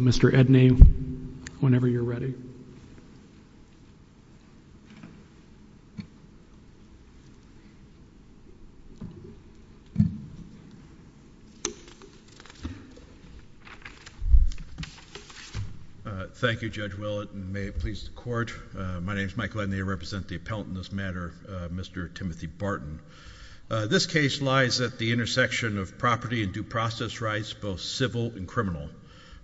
Mr. Edney, whenever you're ready. Thank you, Judge Willett, and may it please the Court, my name is Michael Edney, I represent the appellant in this matter, Mr. Timothy Barton. This case lies at the intersection of property and due process rights, both civil and criminal.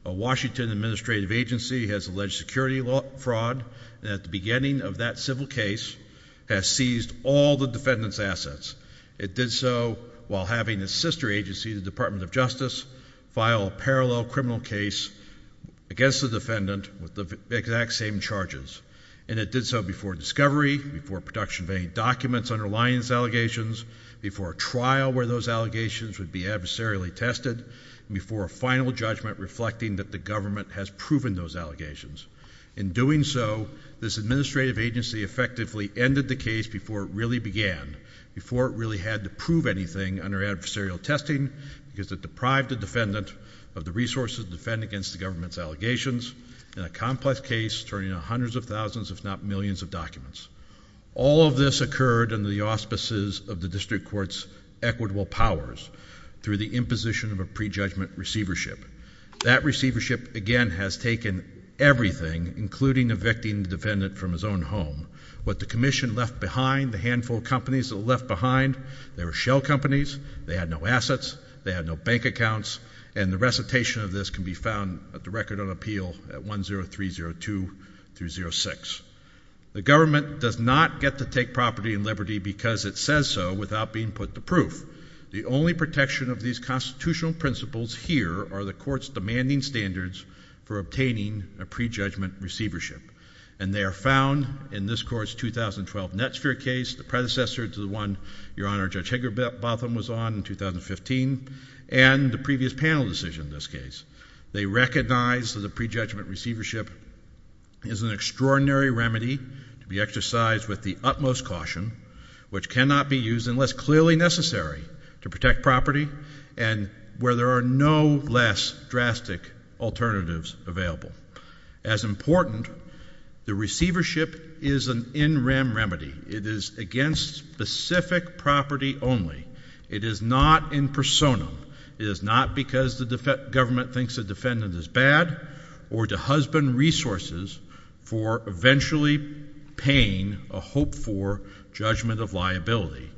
A Washington administrative agency has alleged security fraud, and at the beginning of that civil case, has seized all the defendant's assets. It did so while having a sister agency, the Department of Justice, file a parallel criminal case against the defendant with the exact same charges. And it did so before discovery, before production of any documents underlying these allegations, before a trial where those allegations would be adversarially tested, and before a final judgment reflecting that the government has proven those allegations. In doing so, this administrative agency effectively ended the case before it really began, before it really had to prove anything under adversarial testing, because it deprived the defendant of the resources to defend against the government's allegations, in a complex case turning out hundreds of thousands, if not millions, of documents. All of this occurred under the auspices of the district court's equitable powers, through the imposition of a prejudgment receivership. That receivership, again, has taken everything, including evicting the defendant from his own home. What the commission left behind, the handful of companies that were left behind, they were shell companies, they had no assets, they had no bank accounts, and the recitation of this can be found at the record on appeal at 10302-06. The government does not get to take property and liberty because it says so, without being put to proof. The only protection of these constitutional principles here are the court's demanding standards for obtaining a prejudgment receivership. And they are found in this court's 2012 Netsphere case, the predecessor to the one, Your Honor, Judge Hagerbotham was on in 2015, and the previous panel decision in this case. They recognize that a prejudgment receivership is an extraordinary remedy to be exercised with the utmost caution, which cannot be used unless clearly necessary to protect property, and where there are no less drastic alternatives available. As important, the receivership is an in rem remedy. It is against specific property only. It is not in persona. It is not because the government thinks the defendant is bad, or to husband resources for eventually paying a hopeful judgment of liability.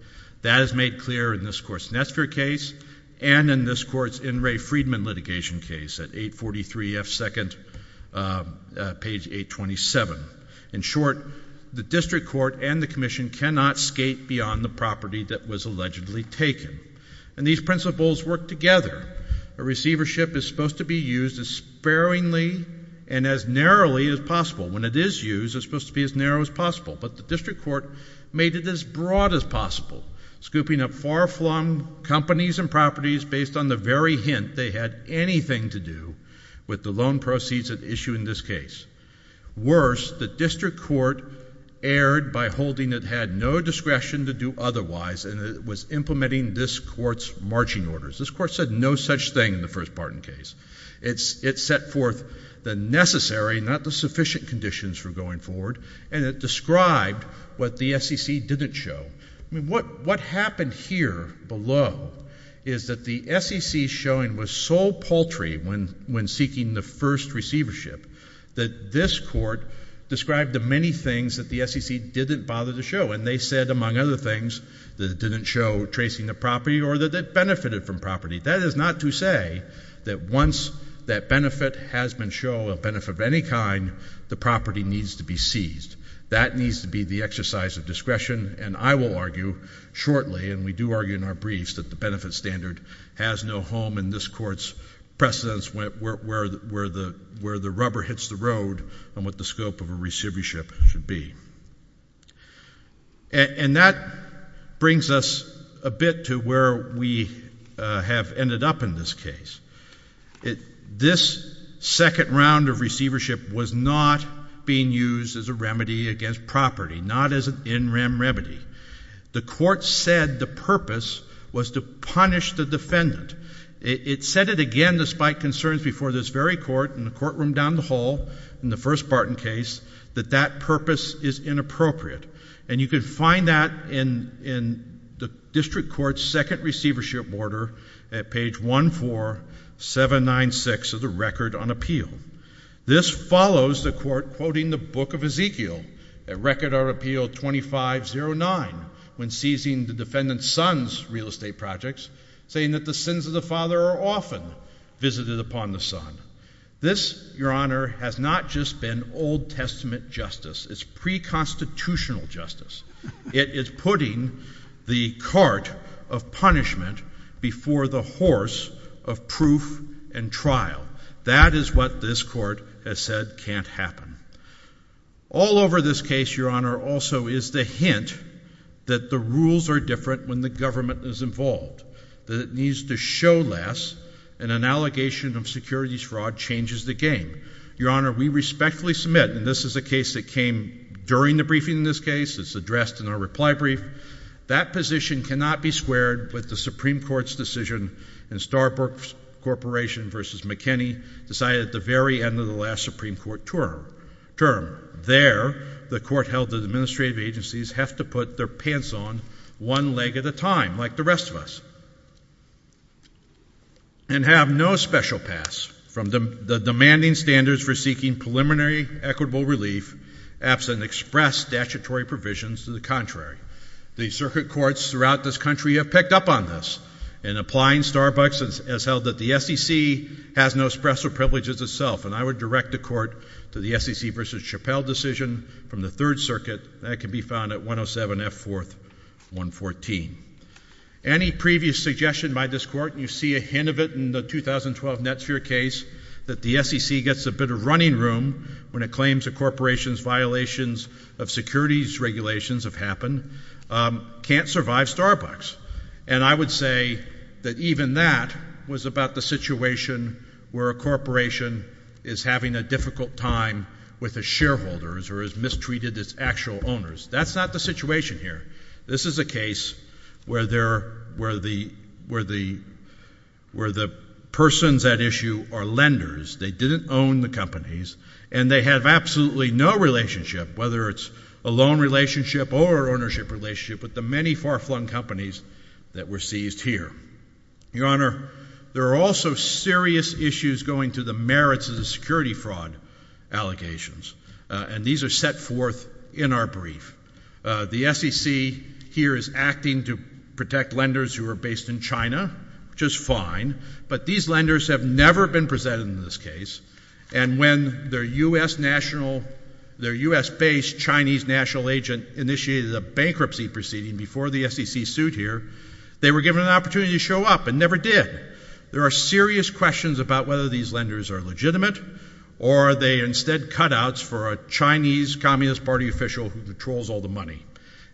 That is made clear in this court's Netsphere case, and in this court's In re Friedman litigation case at 843 F. Second, page 827. In short, the district court and the commission cannot skate beyond the property that was allegedly taken. And these principles work together. A receivership is supposed to be used as sparingly and as narrowly as possible. When it is used, it's supposed to be as narrow as possible. But the district court made it as broad as possible, scooping up far-flung companies and properties based on the very hint they had anything to do with the loan proceeds at issue in this case. Worse, the district court erred by holding it had no discretion to do otherwise, and it was implementing this court's marching orders. This court said no such thing in the first pardon case. It set forth the necessary, not the sufficient conditions for going forward, and it described what the SEC didn't show. What happened here below is that the SEC's showing was so paltry when seeking the first receivership that this court described the many things that the SEC didn't bother to show. And they said, among other things, that it didn't show tracing the property or that it benefited from property. That is not to say that once that benefit has been shown, a benefit of any kind, the property needs to be seized. That needs to be the exercise of discretion. And I will argue shortly, and we do argue in our briefs, that the benefit standard has no home in this court's precedence where the rubber hits the road on what the scope of a receivership should be. And that brings us a bit to where we have ended up in this case. This second round of receivership was not being used as a remedy against property, not as an in rem remedy. The court said the purpose was to punish the defendant. It said it again, despite concerns before this very court in the courtroom down the hall, in the first Barton case, that that purpose is inappropriate. And you can find that in the district court's second receivership order at page 14796 of the record on appeal. This follows the court quoting the Book of Ezekiel at record on appeal 2509 when seizing the defendant's son's real estate projects, saying that the sins of the father are often visited upon the son. This, Your Honor, has not just been Old Testament justice. It's pre-constitutional justice. It is putting the cart of punishment before the horse of proof and trial. That is what this court has said can't happen. All over this case, Your Honor, also is the hint that the rules are different when the government is involved, that it needs to show less, and an allegation of securities fraud changes the game. Your Honor, we respectfully submit, and this is a case that came during the briefing in this case, it's addressed in our reply brief, that position cannot be squared with the Supreme Court's decision in Starbuck Corporation v. McKinney, decided at the very end of the last Supreme Court term. There, the court held that administrative agencies have to put their pants on one leg at a time, like the rest of us, and have no special pass from the demanding standards for seeking preliminary equitable relief absent express statutory provisions to the contrary. The circuit courts throughout this country have picked up on this, and applying Starbucks has held that the SEC has no special privileges itself, and I would direct the court to the Casey v. Chappelle decision from the Third Circuit that can be found at 107 F. 4th, 114. Any previous suggestion by this court, you see a hint of it in the 2012 Netsphere case, that the SEC gets a bit of running room when it claims a corporation's violations of securities regulations have happened, can't survive Starbucks. And I would say that even that was about the situation where a corporation is having a difficult time with the shareholders or is mistreated as actual owners. That's not the situation here. This is a case where the persons at issue are lenders, they didn't own the companies, and they have absolutely no relationship, whether it's a loan relationship or an ownership relationship with the many far-flung companies that were seized here. Your Honor, there are also serious issues going to the merits of the security fraud allegations, and these are set forth in our brief. The SEC here is acting to protect lenders who are based in China, which is fine, but these lenders have never been presented in this case, and when their U.S.-based Chinese national agent initiated a bankruptcy proceeding before the SEC sued here, they were given an opportunity to show up and never did. There are serious questions about whether these lenders are legitimate, or are they instead cutouts for a Chinese Communist Party official who controls all the money.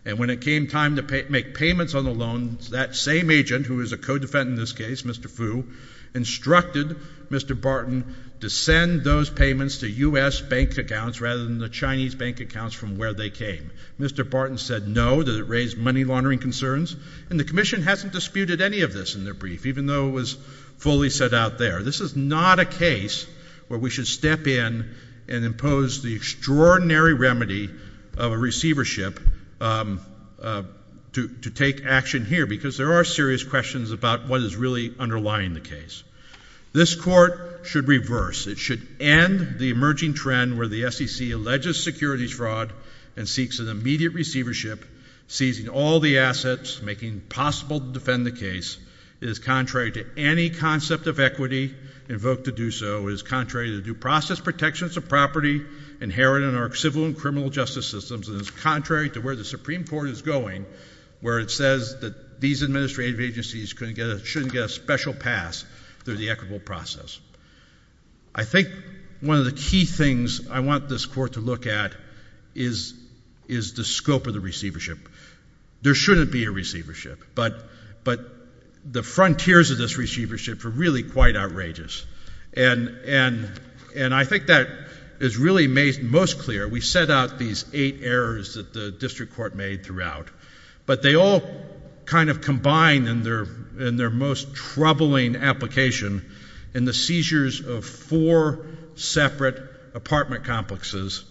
And when it came time to make payments on the loans, that same agent, who is a co-defendant in this case, Mr. Fu, instructed Mr. Barton to send those payments to U.S. bank accounts rather than the Chinese bank accounts from where they came. Mr. Barton said no. Did it raise money laundering concerns? And the Commission hasn't disputed any of this in their brief, even though it was fully set out there. This is not a case where we should step in and impose the extraordinary remedy of a receivership to take action here, because there are serious questions about what is really underlying the case. This Court should reverse. It should end the emerging trend where the SEC alleges securities fraud and seeks an immediate receivership, seizing all the assets, making it possible to defend the case. It is contrary to any concept of equity invoked to do so. It is contrary to due process protections of property inherent in our civil and criminal justice systems. And it is contrary to where the Supreme Court is going, where it says that these administrative agencies shouldn't get a special pass through the equitable process. I think one of the key things I want this Court to look at is the scope of the receivership. There shouldn't be a receivership. But the frontiers of this receivership are really quite outrageous. And I think that is really made most clear. We set out these eight errors that the District Court made throughout. But they all kind of combine in their most troubling application in the seizures of four separate apartment complexes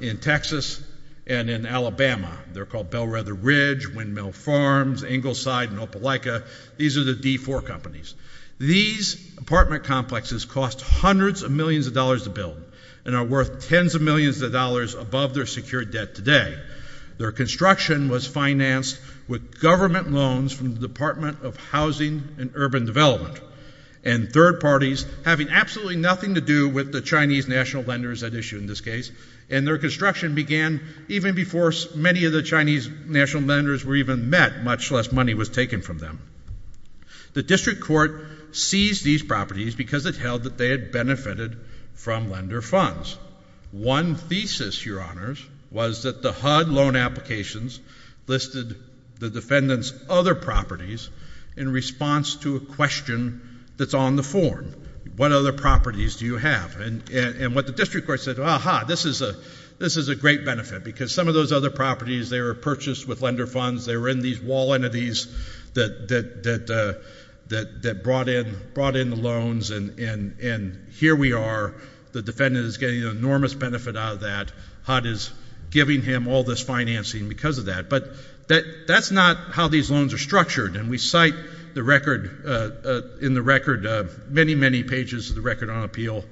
in Texas and in Alabama. They're called Bellwether Ridge, Windmill Farms, Ingleside, and Opelika. These are the D4 companies. These apartment complexes cost hundreds of millions of dollars to build and are worth tens of millions of dollars above their secured debt today. Their construction was financed with government loans from the Department of Housing and Urban Development and third parties having absolutely nothing to do with the Chinese national lenders at issue in this case. And their construction began even before many of the Chinese national lenders were even met, much less money was taken from them. The District Court seized these properties because it held that they had benefited from lender funds. One thesis, Your Honors, was that the HUD loan applications listed the defendant's other properties in response to a question that's on the form. What other properties do you have? And what the District Court said, aha, this is a great benefit because some of those other properties they were purchased with lender funds. They were in these wall entities that brought in the loans and here we are. The defendant is getting an enormous benefit out of that. HUD is giving him all this financing because of that. But that's not how these loans are structured and we cite in the record many, many pages of the Record on Appeal,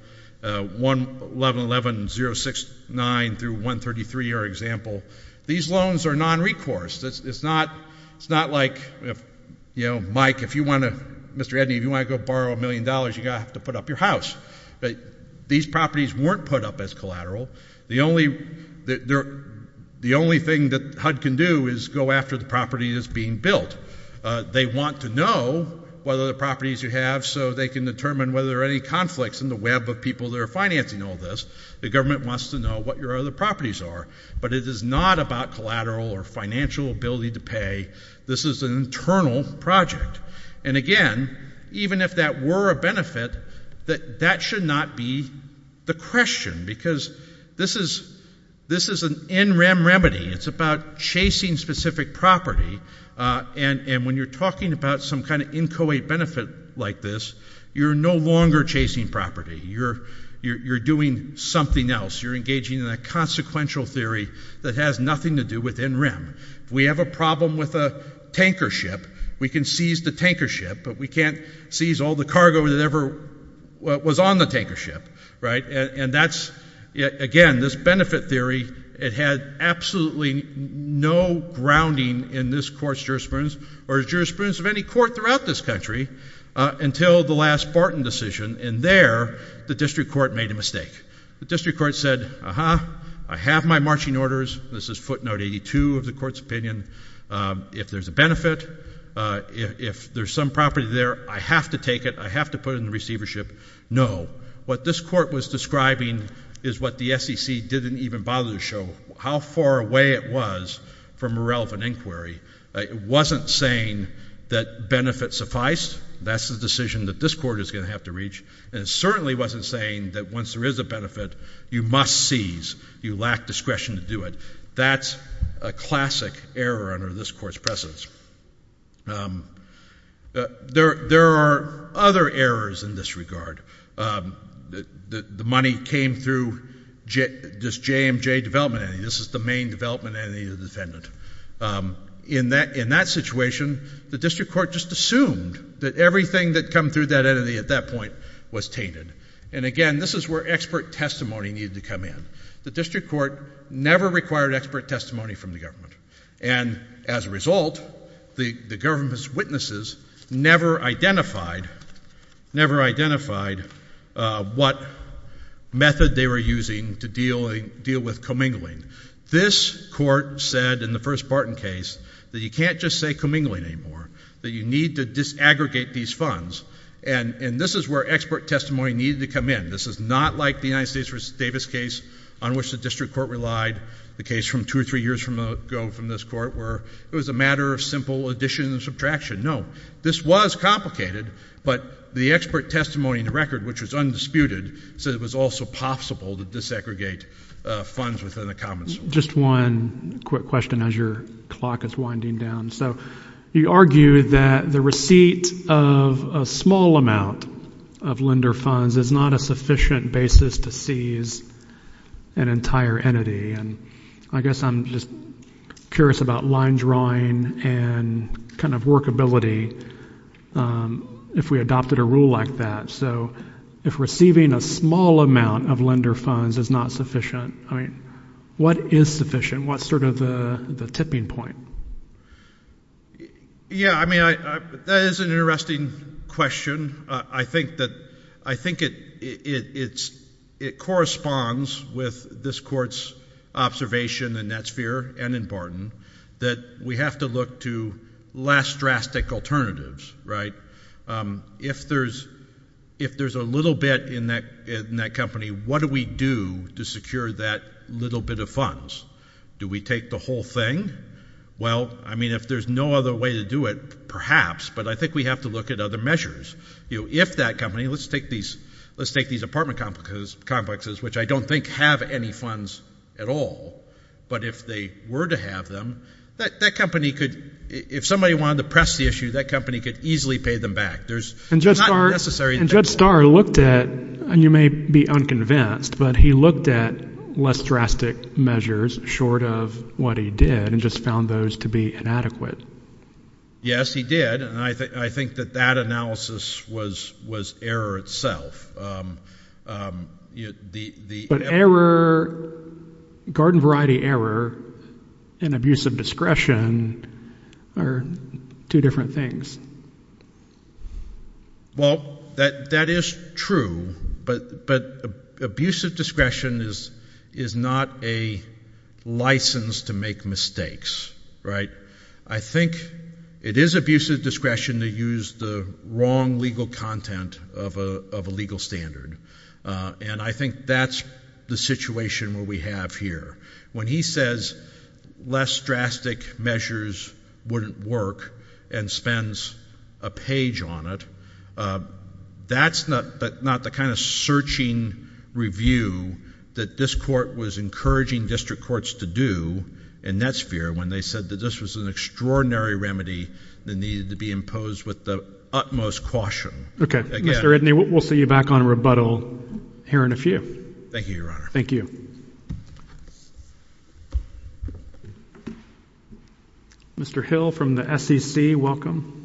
111.069 through 133 are an example. These loans are non-recourse. It's not like, you know, Mike, if you want to, Mr. Edney, if you want to go borrow a million dollars, you're going to have to put up your house. These properties weren't put up as collateral. The only thing that HUD can do is go after the property that's being built. They want to know what other properties you have so they can determine whether there are any conflicts in the web of people that are financing all this. The government wants to know what your other properties are. But it is not about collateral or financial ability to pay. This is an internal project. And again, even if that were a benefit, that should not be the question because this is an NREM remedy. It's about chasing specific property. And when you're talking about some kind of inchoate benefit like this, you're no longer chasing property. You're doing something else. You're engaging in a consequential theory that has nothing to do with NREM. If we have a problem with a tanker ship, we can seize the tanker ship, but we can't seize all the cargo that ever was on the tanker ship, right? And that's, again, this benefit theory, it had absolutely no grounding in this court's jurisprudence or the jurisprudence of any court throughout this country until the last Barton decision. And there, the district court made a mistake. The district court said, uh-huh, I have my marching orders. This is footnote 82 of the court's opinion. If there's a benefit, if there's some property there, I have to take it. I have to put it in the receiver ship. No. What this court was describing is what the SEC didn't even bother to show, how far away it was from a relevant inquiry. It wasn't saying that benefits suffice. That's the decision that this court is going to have to reach. And it certainly wasn't saying that once there is a benefit, you must seize. You lack discretion to do it. That's a classic error under this court's precedence. There are other errors in this regard. The money came through this JMJ development entity. This is the main development entity of the defendant. In that situation, the district court just assumed that everything that came through that entity at that point was tainted. And again, this is where expert testimony needed to come in. The district court never required expert testimony from the government. And as a result, the government's witnesses never identified what method they were using to deal with commingling. This court said in the first Barton case that you can't just say commingling anymore, that you need to disaggregate these funds. And this is where expert testimony needed to come in. This is not like the United States v. Davis case on which the district court relied, the case from two or three years ago from this court, where it was a matter of simple addition and subtraction. No. This was complicated, but the expert testimony in the record, which was undisputed, said it was also possible to desegregate funds within the commons. Just one quick question as your clock is winding down. So you argue that the receipt of a small amount of lender funds is not a sufficient basis to seize an entire entity. And I guess I'm just curious about line drawing and kind of workability if we adopted a rule like that. So if receiving a small amount of lender funds is not sufficient, I mean, what is sufficient? What's sort of the tipping point? Yeah. I mean, that is an interesting question. I think it corresponds with this court's observation in Netsphere and in Barton that we have to look to less drastic alternatives, right? If there's a little bit in that company, what do we do to secure that little bit of funds? Do we take the whole thing? Well, I mean, if there's no other way to do it, perhaps, but I think we have to look at other measures. You know, if that company, let's take these apartment complexes, which I don't think have any funds at all, but if they were to have them, that company could, if somebody wanted to press the issue, that company could easily pay them back. There's not necessary. And Judge Starr looked at, and you may be unconvinced, but he looked at less drastic measures short of what he did and just found those to be inadequate. Yes, he did. And I think that that analysis was error itself. But error, garden variety error, and abuse of discretion are two different things. Well, that is true, but abuse of discretion is not a license to make mistakes, right? I think it is abuse of discretion to use the wrong legal content of a legal standard. And I think that's the situation where we have here. When he says less drastic measures wouldn't work and spends a page on it, that's not the kind of searching review that this court was encouraging district courts to do in that sphere when they said that this was an extraordinary remedy that needed to be imposed with the utmost caution. Okay. Mr. Redney, we'll see you back on rebuttal here in a few. Thank you, Your Honor. Thank you. Thank you. Mr. Hill from the SEC, welcome.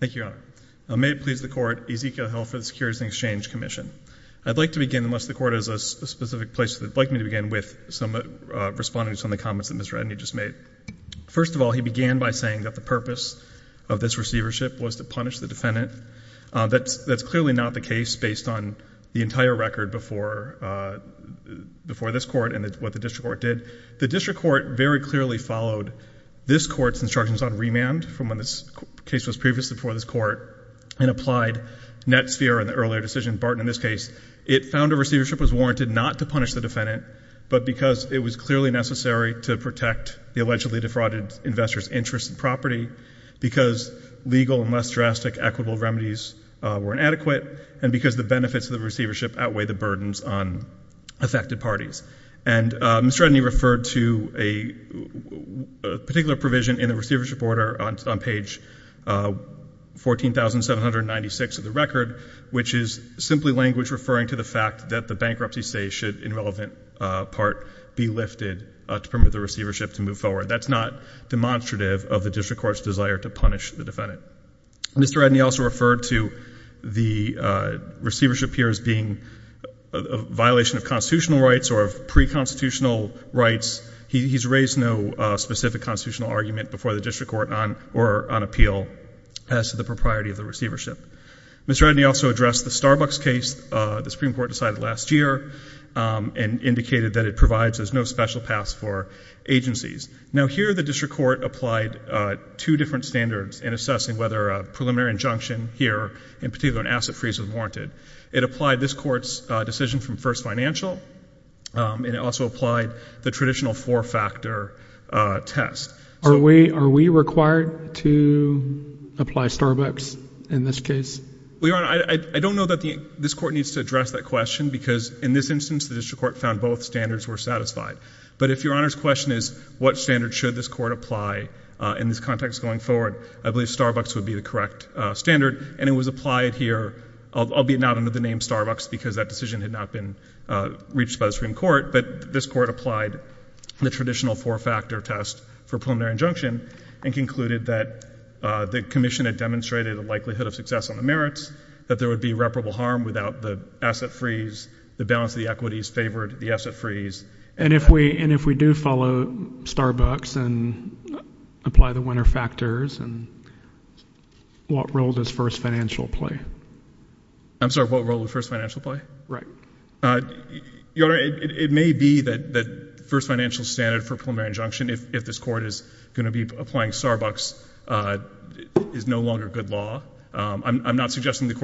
Thank you, Your Honor. May it please the Court, Ezekiel Hill for the Securities and Exchange Commission. I'd like to begin, unless the Court has a specific place that it would like me to begin with, responding to some of the comments that Mr. Redney just made. First of all, he began by saying that the purpose of this receivership was to punish the defendant. That's clearly not the case based on the entire record before this Court and what the district court did. The district court very clearly followed this Court's instructions on remand from when this case was previously before this Court and applied net sphere in the earlier decision. In Barton, in this case, it found a receivership was warranted not to punish the defendant, but because it was clearly necessary to protect the allegedly defrauded investor's interest in property, because legal and less drastic equitable remedies were inadequate, and because the benefits of the receivership outweigh the burdens on affected parties. And Mr. Redney referred to a particular provision in the receivership order on page 14,796 of the record, which is simply language referring to the fact that the bankruptcy say should, in relevant part, be lifted to permit the receivership to move forward. That's not demonstrative of the district court's desire to punish the defendant. Mr. Redney also referred to the receivership here as being a violation of constitutional rights or of pre-constitutional rights. He's raised no specific constitutional argument before the district court on appeal as to the propriety of the receivership. Mr. Redney also addressed the Starbucks case the Supreme Court decided last year and indicated that it provides as no special pass for agencies. Now here the district court applied two different standards in assessing whether a preliminary injunction here, in particular an asset freeze, was warranted. It applied this Court's decision from first financial, and it also applied the traditional four-factor test. Are we required to apply Starbucks in this case? Well, Your Honor, I don't know that this Court needs to address that question because in this instance the district court found both standards were satisfied. But if Your Honor's question is what standard should this Court apply in this context going forward, I believe Starbucks would be the correct standard. And it was applied here, albeit not under the name Starbucks because that decision had not been reached by the Supreme Court, but this Court applied the traditional four-factor test for preliminary injunction and concluded that the commission had demonstrated a likelihood of success on the merits, that there would be irreparable harm without the asset freeze, the balance of the equities favored, the asset freeze. And if we do follow Starbucks and apply the winner factors, what role does first financial play? I'm sorry, what role does first financial play? Right. Your Honor, it may be that first financial standard for preliminary injunction, if this Court is going to be applying Starbucks, is no longer good law. I'm not suggesting this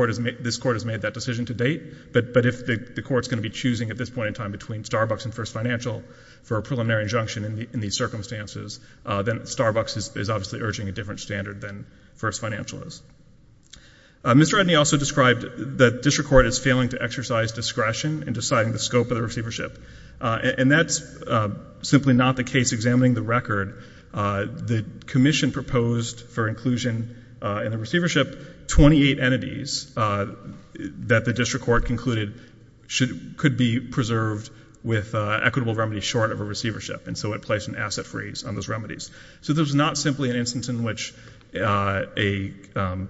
Court has made that decision to date, but if the Court's going to be choosing at this point in time between Starbucks and first financial for a preliminary injunction in these circumstances, then Starbucks is obviously urging a different standard than first financial is. Mr. Redney also described that district court is failing to exercise discretion in deciding the scope of the receivership, and that's simply not the case examining the record. The commission proposed for inclusion in the receivership 28 entities that the district court concluded could be preserved with equitable remedies short of a receivership, and so it placed an asset freeze on those remedies. So this is not simply an instance in which a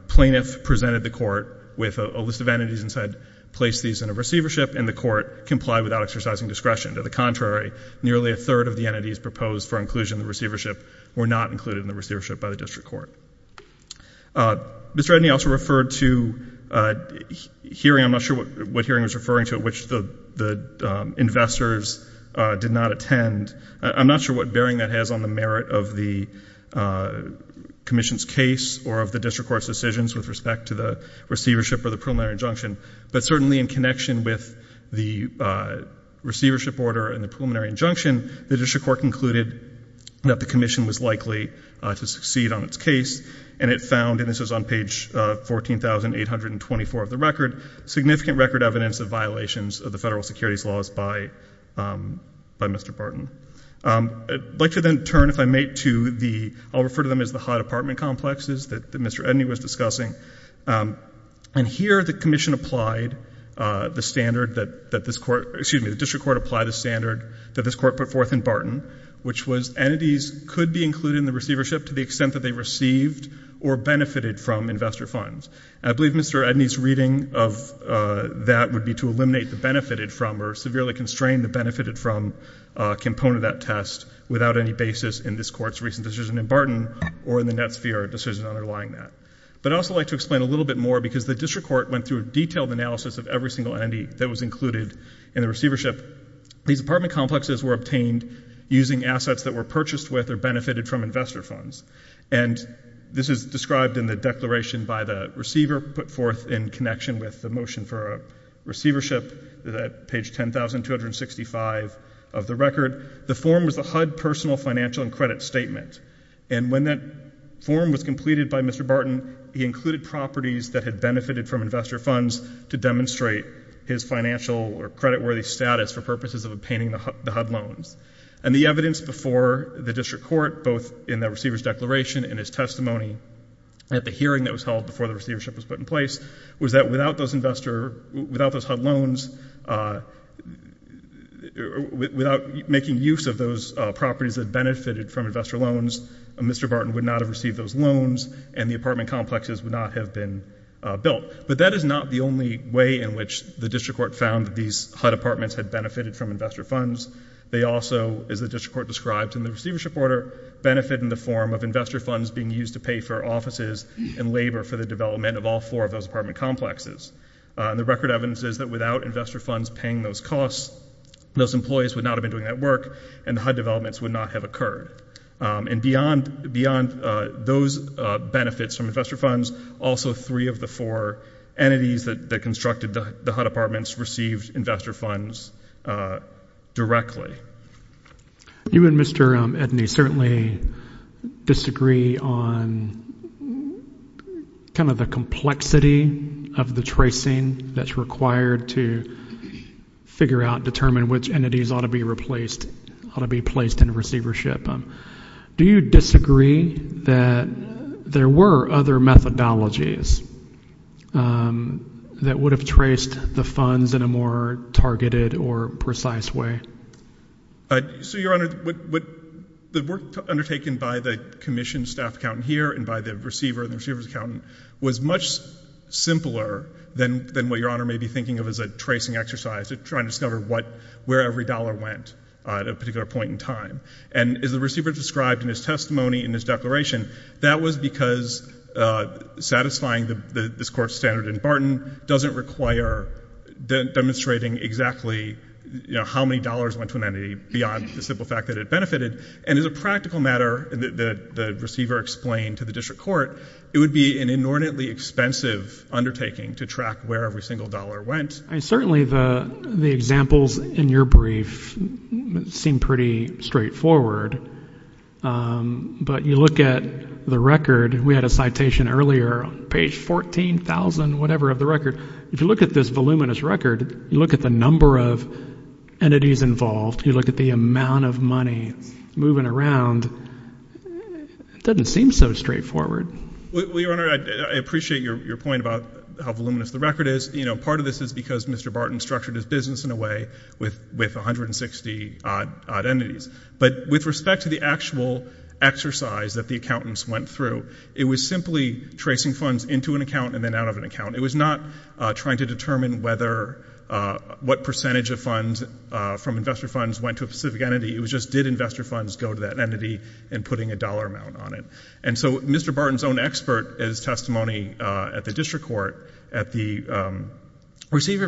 plaintiff presented the court with a list of entities and said, place these in a receivership, and the court complied without exercising discretion. To the contrary, nearly a third of the entities proposed for inclusion in the receivership were not included in the receivership by the district court. Mr. Redney also referred to a hearing, I'm not sure what hearing he was referring to, at which the investors did not attend. I'm not sure what bearing that has on the merit of the commission's case or of the district court's decisions with respect to the receivership or the preliminary injunction, but certainly in connection with the receivership order and the preliminary injunction, the district court concluded that the commission was likely to succeed on its case, and it found, and this was on page 14,824 of the record, significant record evidence of violations of the federal I'd like to then turn, if I may, to the, I'll refer to them as the high department complexes that Mr. Edney was discussing, and here the commission applied the standard that this court, excuse me, the district court applied a standard that this court put forth in Barton, which was entities could be included in the receivership to the extent that they received or benefited from investor funds, and I believe Mr. Edney's reading of that would be to eliminate the benefited from or severely constrain the benefited from component of that test without any basis in this court's recent decision in Barton or in the Netsphere decision underlying that, but I'd also like to explain a little bit more because the district court went through a detailed analysis of every single entity that was included in the receivership. These department complexes were obtained using assets that were purchased with or benefited from investor funds, and this is described in the declaration by the receiver put forth in connection with the motion for receivership, page 10,265 of the record. The form was the HUD personal financial and credit statement, and when that form was completed by Mr. Barton, he included properties that had benefited from investor funds to demonstrate his financial or creditworthy status for purposes of obtaining the HUD loans, and the evidence before the district court, both in the receiver's declaration and his testimony at the hearing that was held before the receivership was put in place, was that without those HUD loans, without making use of those properties that benefited from investor loans, Mr. Barton would not have received those loans, and the apartment complexes would not have been built, but that is not the only way in which the district court found that these HUD apartments had benefited from investor funds. They also, as the district court described in the receivership order, benefit in the form of investor funds being used to pay for offices and labor for the development of all four of those apartment complexes. The record evidence is that without investor funds paying those costs, those employees would not have been doing that work, and the HUD developments would not have occurred. And beyond those benefits from investor funds, also three of the four entities that constructed the HUD apartments received investor funds directly. You and Mr. Edney certainly disagree on kind of the complexity of the tracing that's required to figure out, determine which entities ought to be replaced, ought to be placed in receivership. Do you disagree that there were other methodologies that would have traced the funds in a more targeted or precise way? So, Your Honor, the work undertaken by the commissioned staff accountant here and by the receiver and the receiver's accountant was much simpler than what Your Honor may be thinking of as a tracing exercise, trying to discover where every dollar went at a particular point in time. And as the receiver described in his testimony, in his declaration, that was because satisfying this Court's standard in Barton doesn't require demonstrating exactly, you know, how many dollars went to an entity beyond the simple fact that it benefited. And as a practical matter, the receiver explained to the district court, it would be an inordinately expensive undertaking to track where every single dollar went. I mean, certainly the examples in your brief seem pretty straightforward. But you look at the record, we had a citation earlier, page 14,000, whatever, of the record. If you look at this voluminous record, you look at the number of entities involved, you look at the amount of money moving around, it doesn't seem so straightforward. Well, Your Honor, I appreciate your point about how voluminous the record is. You know, part of this is because Mr. Barton structured his business in a way with 160 odd entities. But with respect to the actual exercise that the accountants went through, it was simply tracing funds into an account and then out of an account. It was not trying to determine whether, what percentage of funds from investor funds went to a specific entity. It was just, did investor funds go to that entity, and putting a dollar amount on it. And so Mr. Barton's own expert, his testimony at the district court, at the receiver,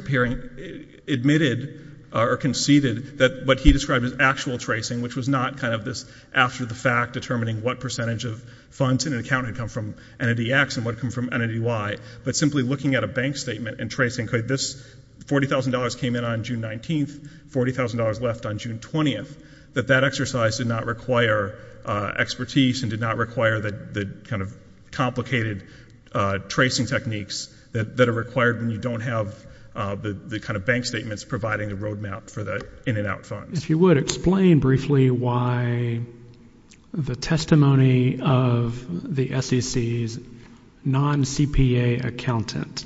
admitted or conceded that what he described as actual tracing, which was not kind of this after-the-fact determining what percentage of funds in an account had come from Entity X and what had come from Entity Y, but simply looking at a bank statement and tracing, okay, this $40,000 came in on June 19th, $40,000 left on June 20th, that that exercise did not require expertise and did not require the kind of complicated tracing techniques that are required when you don't have the kind of bank statements providing the road map for the in-and-out funds. If you would, explain briefly why the testimony of the SEC's non-CPA accountant,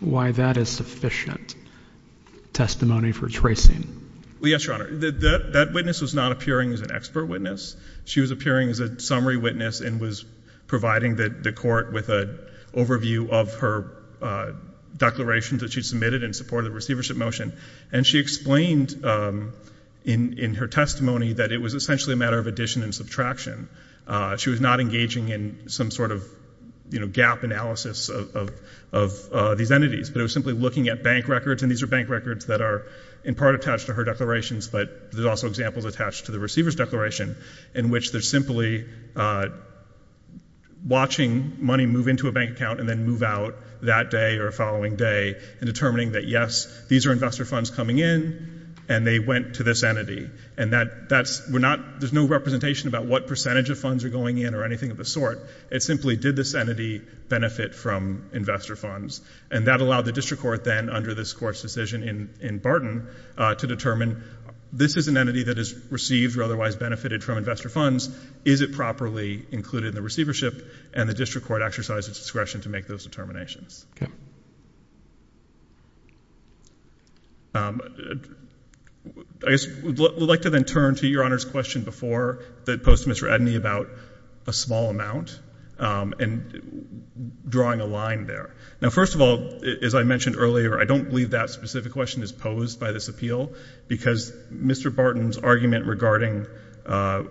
why that is sufficient testimony for tracing. Well, yes, Your Honor. That witness was not appearing as an expert witness. She was appearing as a summary witness and was providing the court with an overview of her declarations that she submitted in support of the receivership motion, and she explained in her testimony that it was essentially a matter of addition and subtraction. She was not engaging in some sort of gap analysis of these entities, but it was simply looking at bank records, and these are bank records that are in part attached to her declarations, but there's also examples attached to the receiver's declaration in which they're simply watching money move into a bank account and then move out that day or the following day and determining that, yes, these are investor funds coming in, and they went to this entity, and that's... we're not... there's no representation about what percentage of funds are going in or anything of the sort. It simply did this entity benefit from investor funds, and that allowed the district court then, under this Court's decision in Barton, to determine this is an entity that has received or otherwise benefited from investor funds, is it properly included in the receivership, and the district court exercised its discretion to make those determinations. I guess we'd like to then turn to Your Honor's question before that posed to Mr. Edney about a small amount and drawing a line there. Now, first of all, as I mentioned earlier, I don't believe that specific question is posed by this appeal, because Mr. Barton's argument regarding a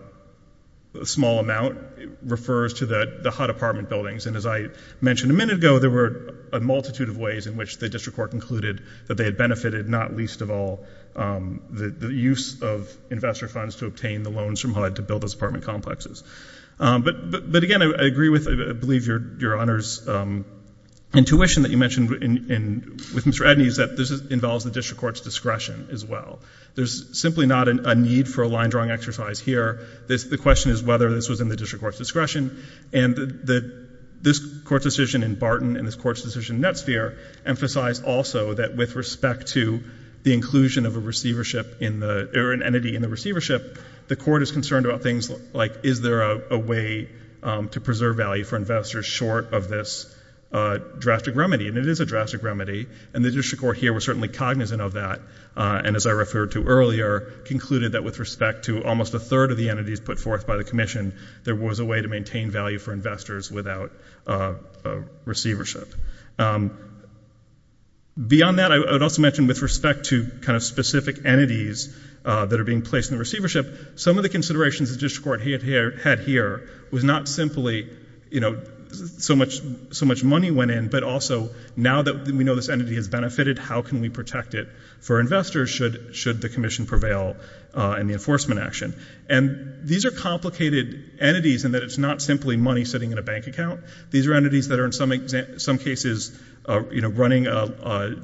small amount refers to the HUD apartment buildings, and as I mentioned a minute ago, there were a multitude of ways in which the district court concluded that they had benefited, not least of all, the use of investor funds to obtain the loans from HUD to build those apartment complexes. But again, I agree with, I believe, Your Honor's intuition that you mentioned with Mr. Edney is that this involves the district court's discretion as well. There's simply not a need for a line-drawing exercise here. The question is whether this was in the district court's discretion, and this Court's decision in Barton and this Court's decision in Netsphere emphasized also that with respect to the inclusion of a receivership in the, or an entity in the receivership, the court is concerned about things like, is there a way to preserve value for investors short of this drastic remedy? And it is a drastic remedy, and the district court here was certainly cognizant of that, and as I referred to earlier, concluded that with respect to almost a third of the entities put forth by the Commission, there was a way to maintain value for investors without receivership. Beyond that, I would also mention with respect to kind of specific entities that are being placed in the receivership, some of the considerations the district court had here was not simply, you know, so much money went in, but also now that we know this entity has benefited, how can we protect it for investors should the Commission prevail in the enforcement action? And these are complicated entities in that it's not simply money sitting in a bank account. These are entities that are in some cases, you know, running a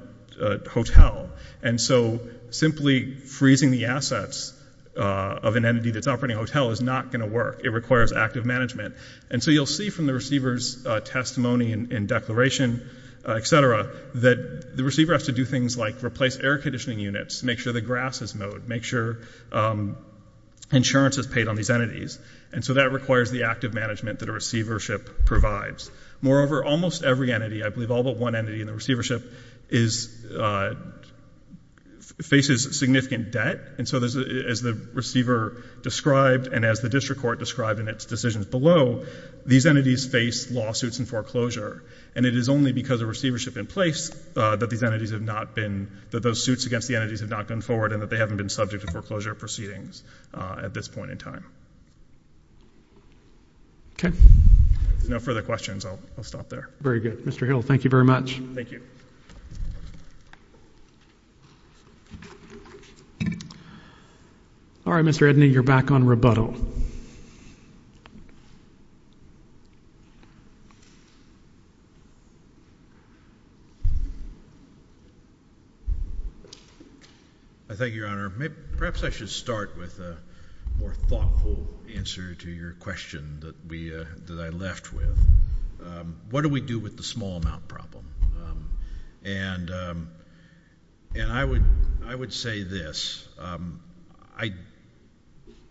hotel, and so simply freezing the assets of an entity that's operating a hotel is not going to work. It requires active management. And so you'll see from the receiver's testimony and declaration, et cetera, that the receiver has to do things like replace air conditioning units, make sure the grass is mowed, make sure insurance is paid on these entities, and so that requires the active management that a receivership provides. Moreover, almost every entity, I believe all but one entity in the receivership, faces significant debt, and so as the receiver described and as the district court described in its decisions below, these entities face lawsuits and foreclosure. And it is only because of receivership in place that these entities have not been, that those suits against the entities have not gone forward and that they haven't been subject to foreclosure proceedings at this point in time. Okay. If there's no further questions, I'll stop there. Very good. Mr. Hill, thank you very much. Thank you. All right, Mr. Edney, you're back on rebuttal. I think, Your Honor, perhaps I should start with a more thoughtful answer to your question that we, that I left with. What do we do with the small amount problem? And I would say this. I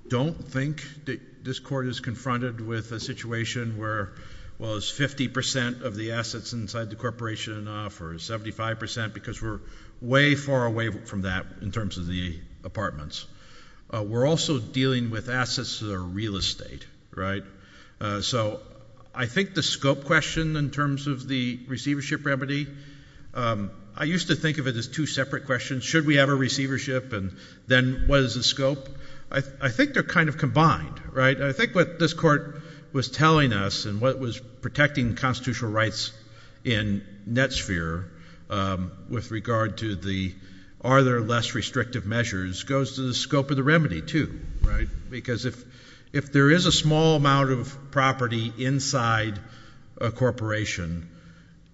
don't think that this Court is confronted with a situation where, well, it's 50 percent of the assets inside the corporation and off, or 75 percent, because we're way far away from that in terms of the apartments. We're also dealing with assets that are real estate, right? So I think the scope question in terms of the receivership remedy, I used to think of it as two separate questions, should we have a receivership and then what is the scope? I think they're kind of combined, right? I think what this Court was telling us and what was protecting the constitutional rights in NetSphere with regard to the, are there less restrictive measures, goes to the scope of the remedy, too, right? Because if there is a small amount of property inside a corporation,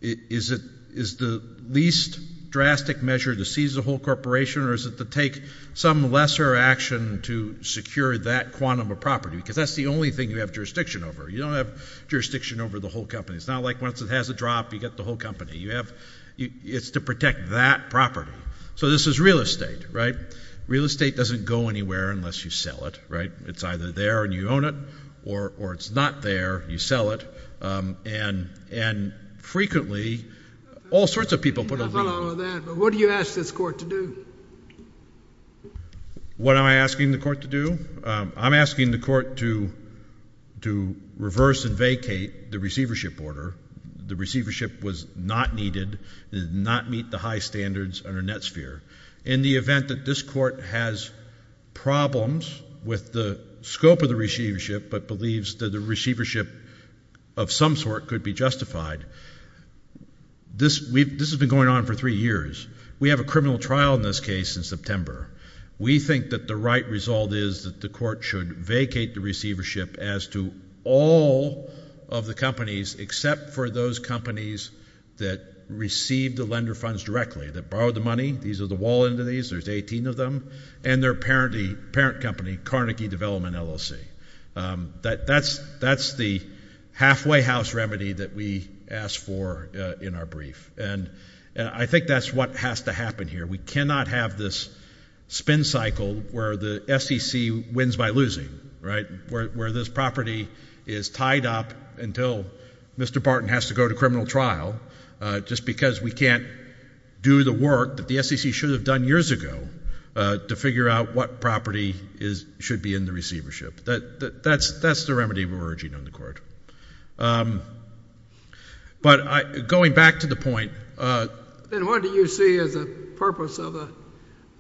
is it, is the least drastic measure to seize the whole corporation or is it to take some lesser action to secure that quantum of property, because that's the only thing you have jurisdiction over. You don't have jurisdiction over the whole company. It's not like once it has a drop, you get the whole company. You have, it's to protect that property. So this is real estate, right? Real estate doesn't go anywhere unless you sell it, right? It's either there and you own it or it's not there, you sell it, and frequently, all sorts of people put a lot of that, but what do you ask this Court to do? What am I asking the Court to do? I'm asking the Court to reverse and vacate the receivership order. The receivership was not needed, did not meet the high standards under NetSphere. In the event that this Court has problems with the scope of the receivership but believes that the receivership of some sort could be justified, this, we've, this has been going on for three years. We have a criminal trial in this case in September. We think that the right result is that the Court should vacate the receivership as to all of the companies except for those companies that receive the lender funds directly, that borrow the money. These are the wall entities. There's 18 of them, and their parent company, Carnegie Development, LLC. That's the halfway house remedy that we asked for in our brief, and I think that's what has to happen here. We cannot have this spin cycle where the SEC wins by losing, right? Where this property is tied up until Mr. Barton has to go to criminal trial just because we can't do the work that the SEC should have done years ago to figure out what property is, should be in the receivership. That's the remedy we're urging on the Court. But going back to the point... Then what do you see as the purpose of the,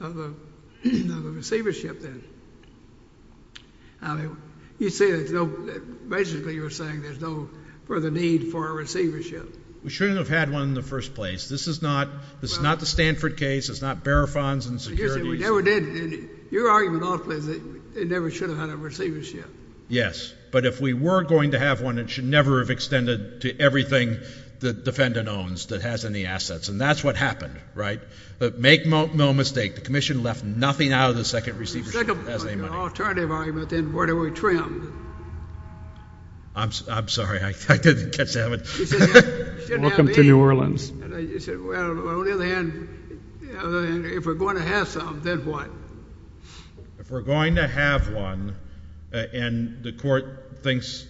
of the, of the receivership then? I mean, you say there's no, basically you're saying there's no further need for a receivership. We shouldn't have had one in the first place. This is not, this is not the Stanford case. It's not bearer funds and securities. You're saying we never did. And your argument ultimately is that they never should have had a receivership. Yes. But if we were going to have one, it should never have extended to everything the defendant owns that has any assets. And that's what happened, right? But make no mistake, the Commission left nothing out of the second receivership if it has any money. The alternative argument then, where do we trim? I'm sorry. I didn't catch that one. Welcome to New Orleans. I said, well, on the other hand, on the other hand, if we're going to have some, then what? If we're going to have one and the court thinks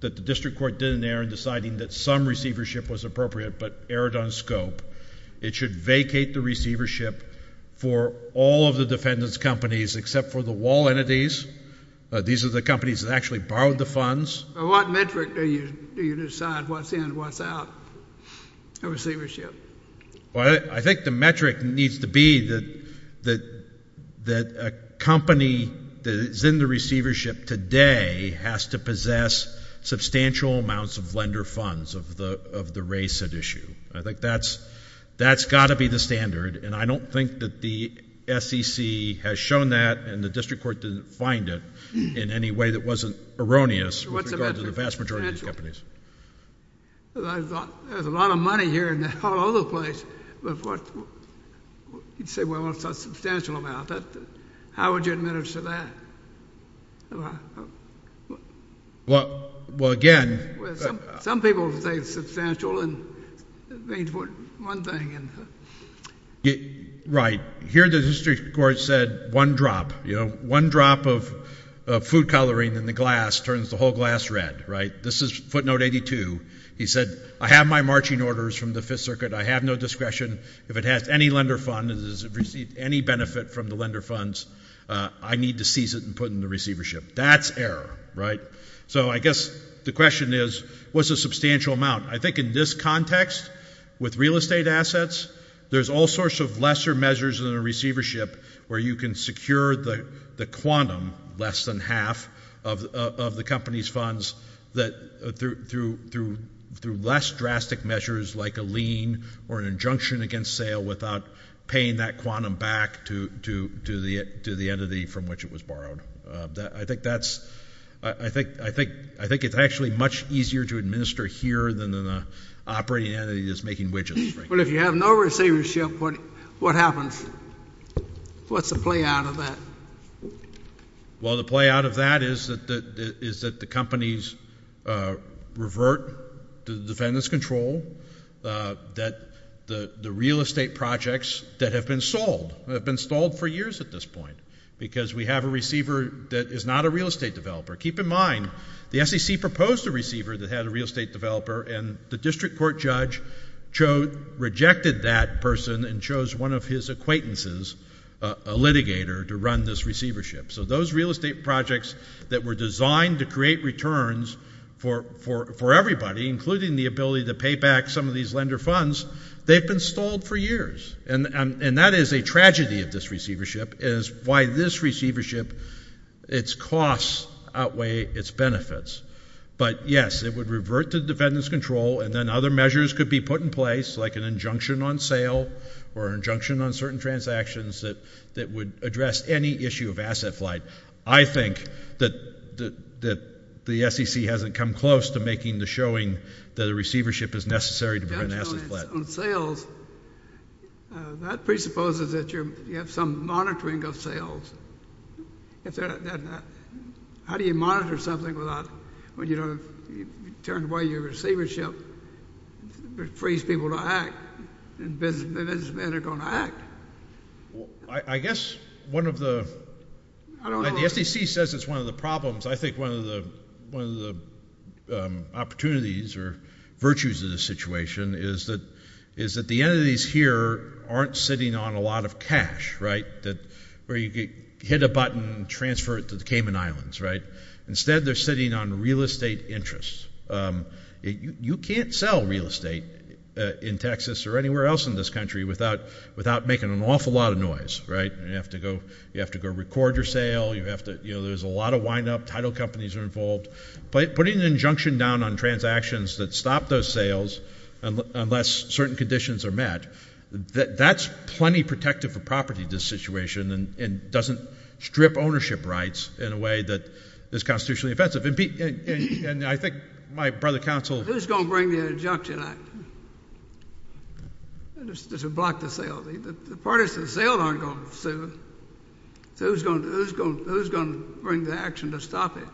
that the district court did an error in deciding that some receivership was appropriate but erred on scope, it should vacate the receivership for all of the defendant's companies except for the wall entities. These are the companies that actually borrowed the funds. What metric do you, do you decide what's in and what's out? A receivership. Well, I think the metric needs to be that a company that is in the receivership today has to possess substantial amounts of lender funds of the race at issue. I think that's got to be the standard. And I don't think that the SEC has shown that and the district court didn't find it in any way that wasn't erroneous with regard to the vast majority of these companies. There's a lot of money here and a whole other place, but what, you'd say, well, it's a substantial amount. How would you administer that? Well, again... Some people say it's substantial and it means one thing and... Right. Here the district court said one drop, you know, one drop of food coloring in the glass turns the whole glass red, right? This is footnote 82. He said, I have my marching orders from the fifth circuit. I have no discretion. If it has any lender fund, if it has received any benefit from the lender funds, I need to seize it and put it in the receivership. That's error, right? So I guess the question is, what's a substantial amount? I think in this context, with real estate assets, there's all sorts of lesser measures than a receivership where you can secure the quantum, less than half, of the company's funds that, through less drastic measures like a lien or an injunction against sale without paying that quantum back to the entity from which it was borrowed. I think that's... I think it's actually much easier to administer here than an operating entity that's making widgets. But if you have no receivership, what happens? What's the play out of that? Well, the play out of that is that the companies revert to the defendant's control, that the real estate projects that have been sold, that have been sold for years at this point, because we have a receiver that is not a real estate developer. Keep in mind, the SEC proposed a receiver that had a real estate developer, and the district court judge rejected that person and chose one of his acquaintances, a litigator, to run this receivership. So those real estate projects that were designed to create returns for everybody, including the ability to pay back some of these lender funds, they've been stalled for years. And that is a tragedy of this receivership, is why this receivership, its costs outweigh its benefits. But yes, it would revert to the defendant's control, and then other measures could be put in place, like an injunction on sale or an injunction on certain transactions that would address any issue of asset flight. I think that the SEC hasn't come close to making the showing that a receivership is necessary to prevent asset flight. On sales, that presupposes that you have some monitoring of sales. How do you monitor something without—when you turn away your receivership, it frees people to act, and businessmen are going to act. I guess one of the— I don't know. The SEC says it's one of the problems. I think one of the opportunities or virtues of this situation is that the entities here aren't sitting on a lot of cash, right, where you hit a button and transfer it to the Cayman Islands, right? Instead, they're sitting on real estate interests. You can't sell real estate in Texas or anywhere else in this country without making an awful lot of noise, right? You have to go record your sale. You have to—there's a lot of windup. Title companies are involved. Putting an injunction down on transactions that stop those sales, unless certain conditions are met, that's plenty protective of property, this situation, and doesn't strip ownership rights in a way that is constitutionally offensive. And I think my brother counsel— Who's going to bring the injunction out? This would block the sale. The parties to the sale aren't going to sue. So who's going to bring the action to stop it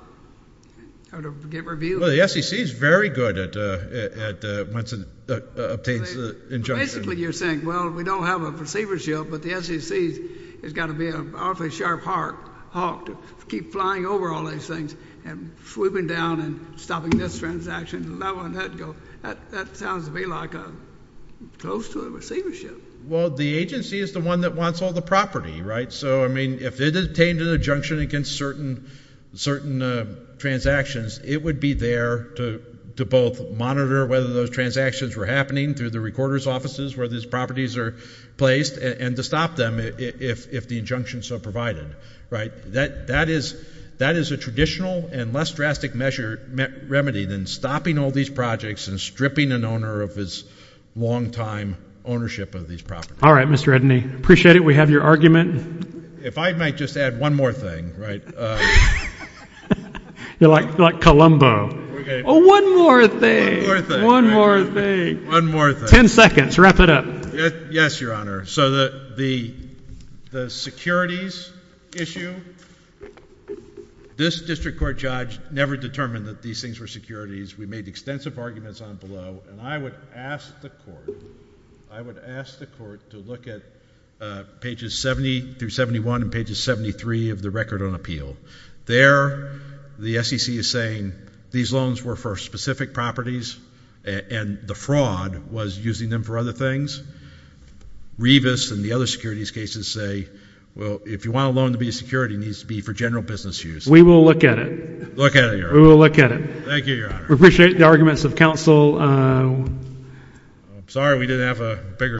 or to get reviewed? Well, the SEC is very good at—once it obtains the injunction. Basically, you're saying, well, we don't have a receivership, but the SEC has got to be an awfully sharp hawk to keep flying over all these things and swooping down and stopping this transaction and allowing that to go. That sounds to me like close to a receivership. Well, the agency is the one that wants all the property, right? So, I mean, if it obtained an injunction against certain transactions, it would be there to both monitor whether those transactions were happening through the recorder's offices where these properties are placed, and to stop them if the injunction is so provided. Right? That is a traditional and less drastic remedy than stopping all these projects and stripping an owner of his long-time ownership of these properties. All right, Mr. Edney. Appreciate it. We have your argument. If I might just add one more thing, right? You're like Columbo. Oh, one more thing. One more thing. One more thing. One more thing. Just a few seconds. Wrap it up. Yes, Your Honor. So, the securities issue, this district court judge never determined that these things were securities. We made extensive arguments on below, and I would ask the court, I would ask the court to look at pages 70 through 71 and pages 73 of the Record on Appeal. There, the SEC is saying these loans were for specific properties, and the fraud was using them for other things. Revis and the other securities cases say, well, if you want a loan to be a security, it needs to be for general business use. We will look at it. Look at it, Your Honor. We will look at it. Thank you, Your Honor. We appreciate the arguments of counsel. I'm sorry we didn't have a bigger question.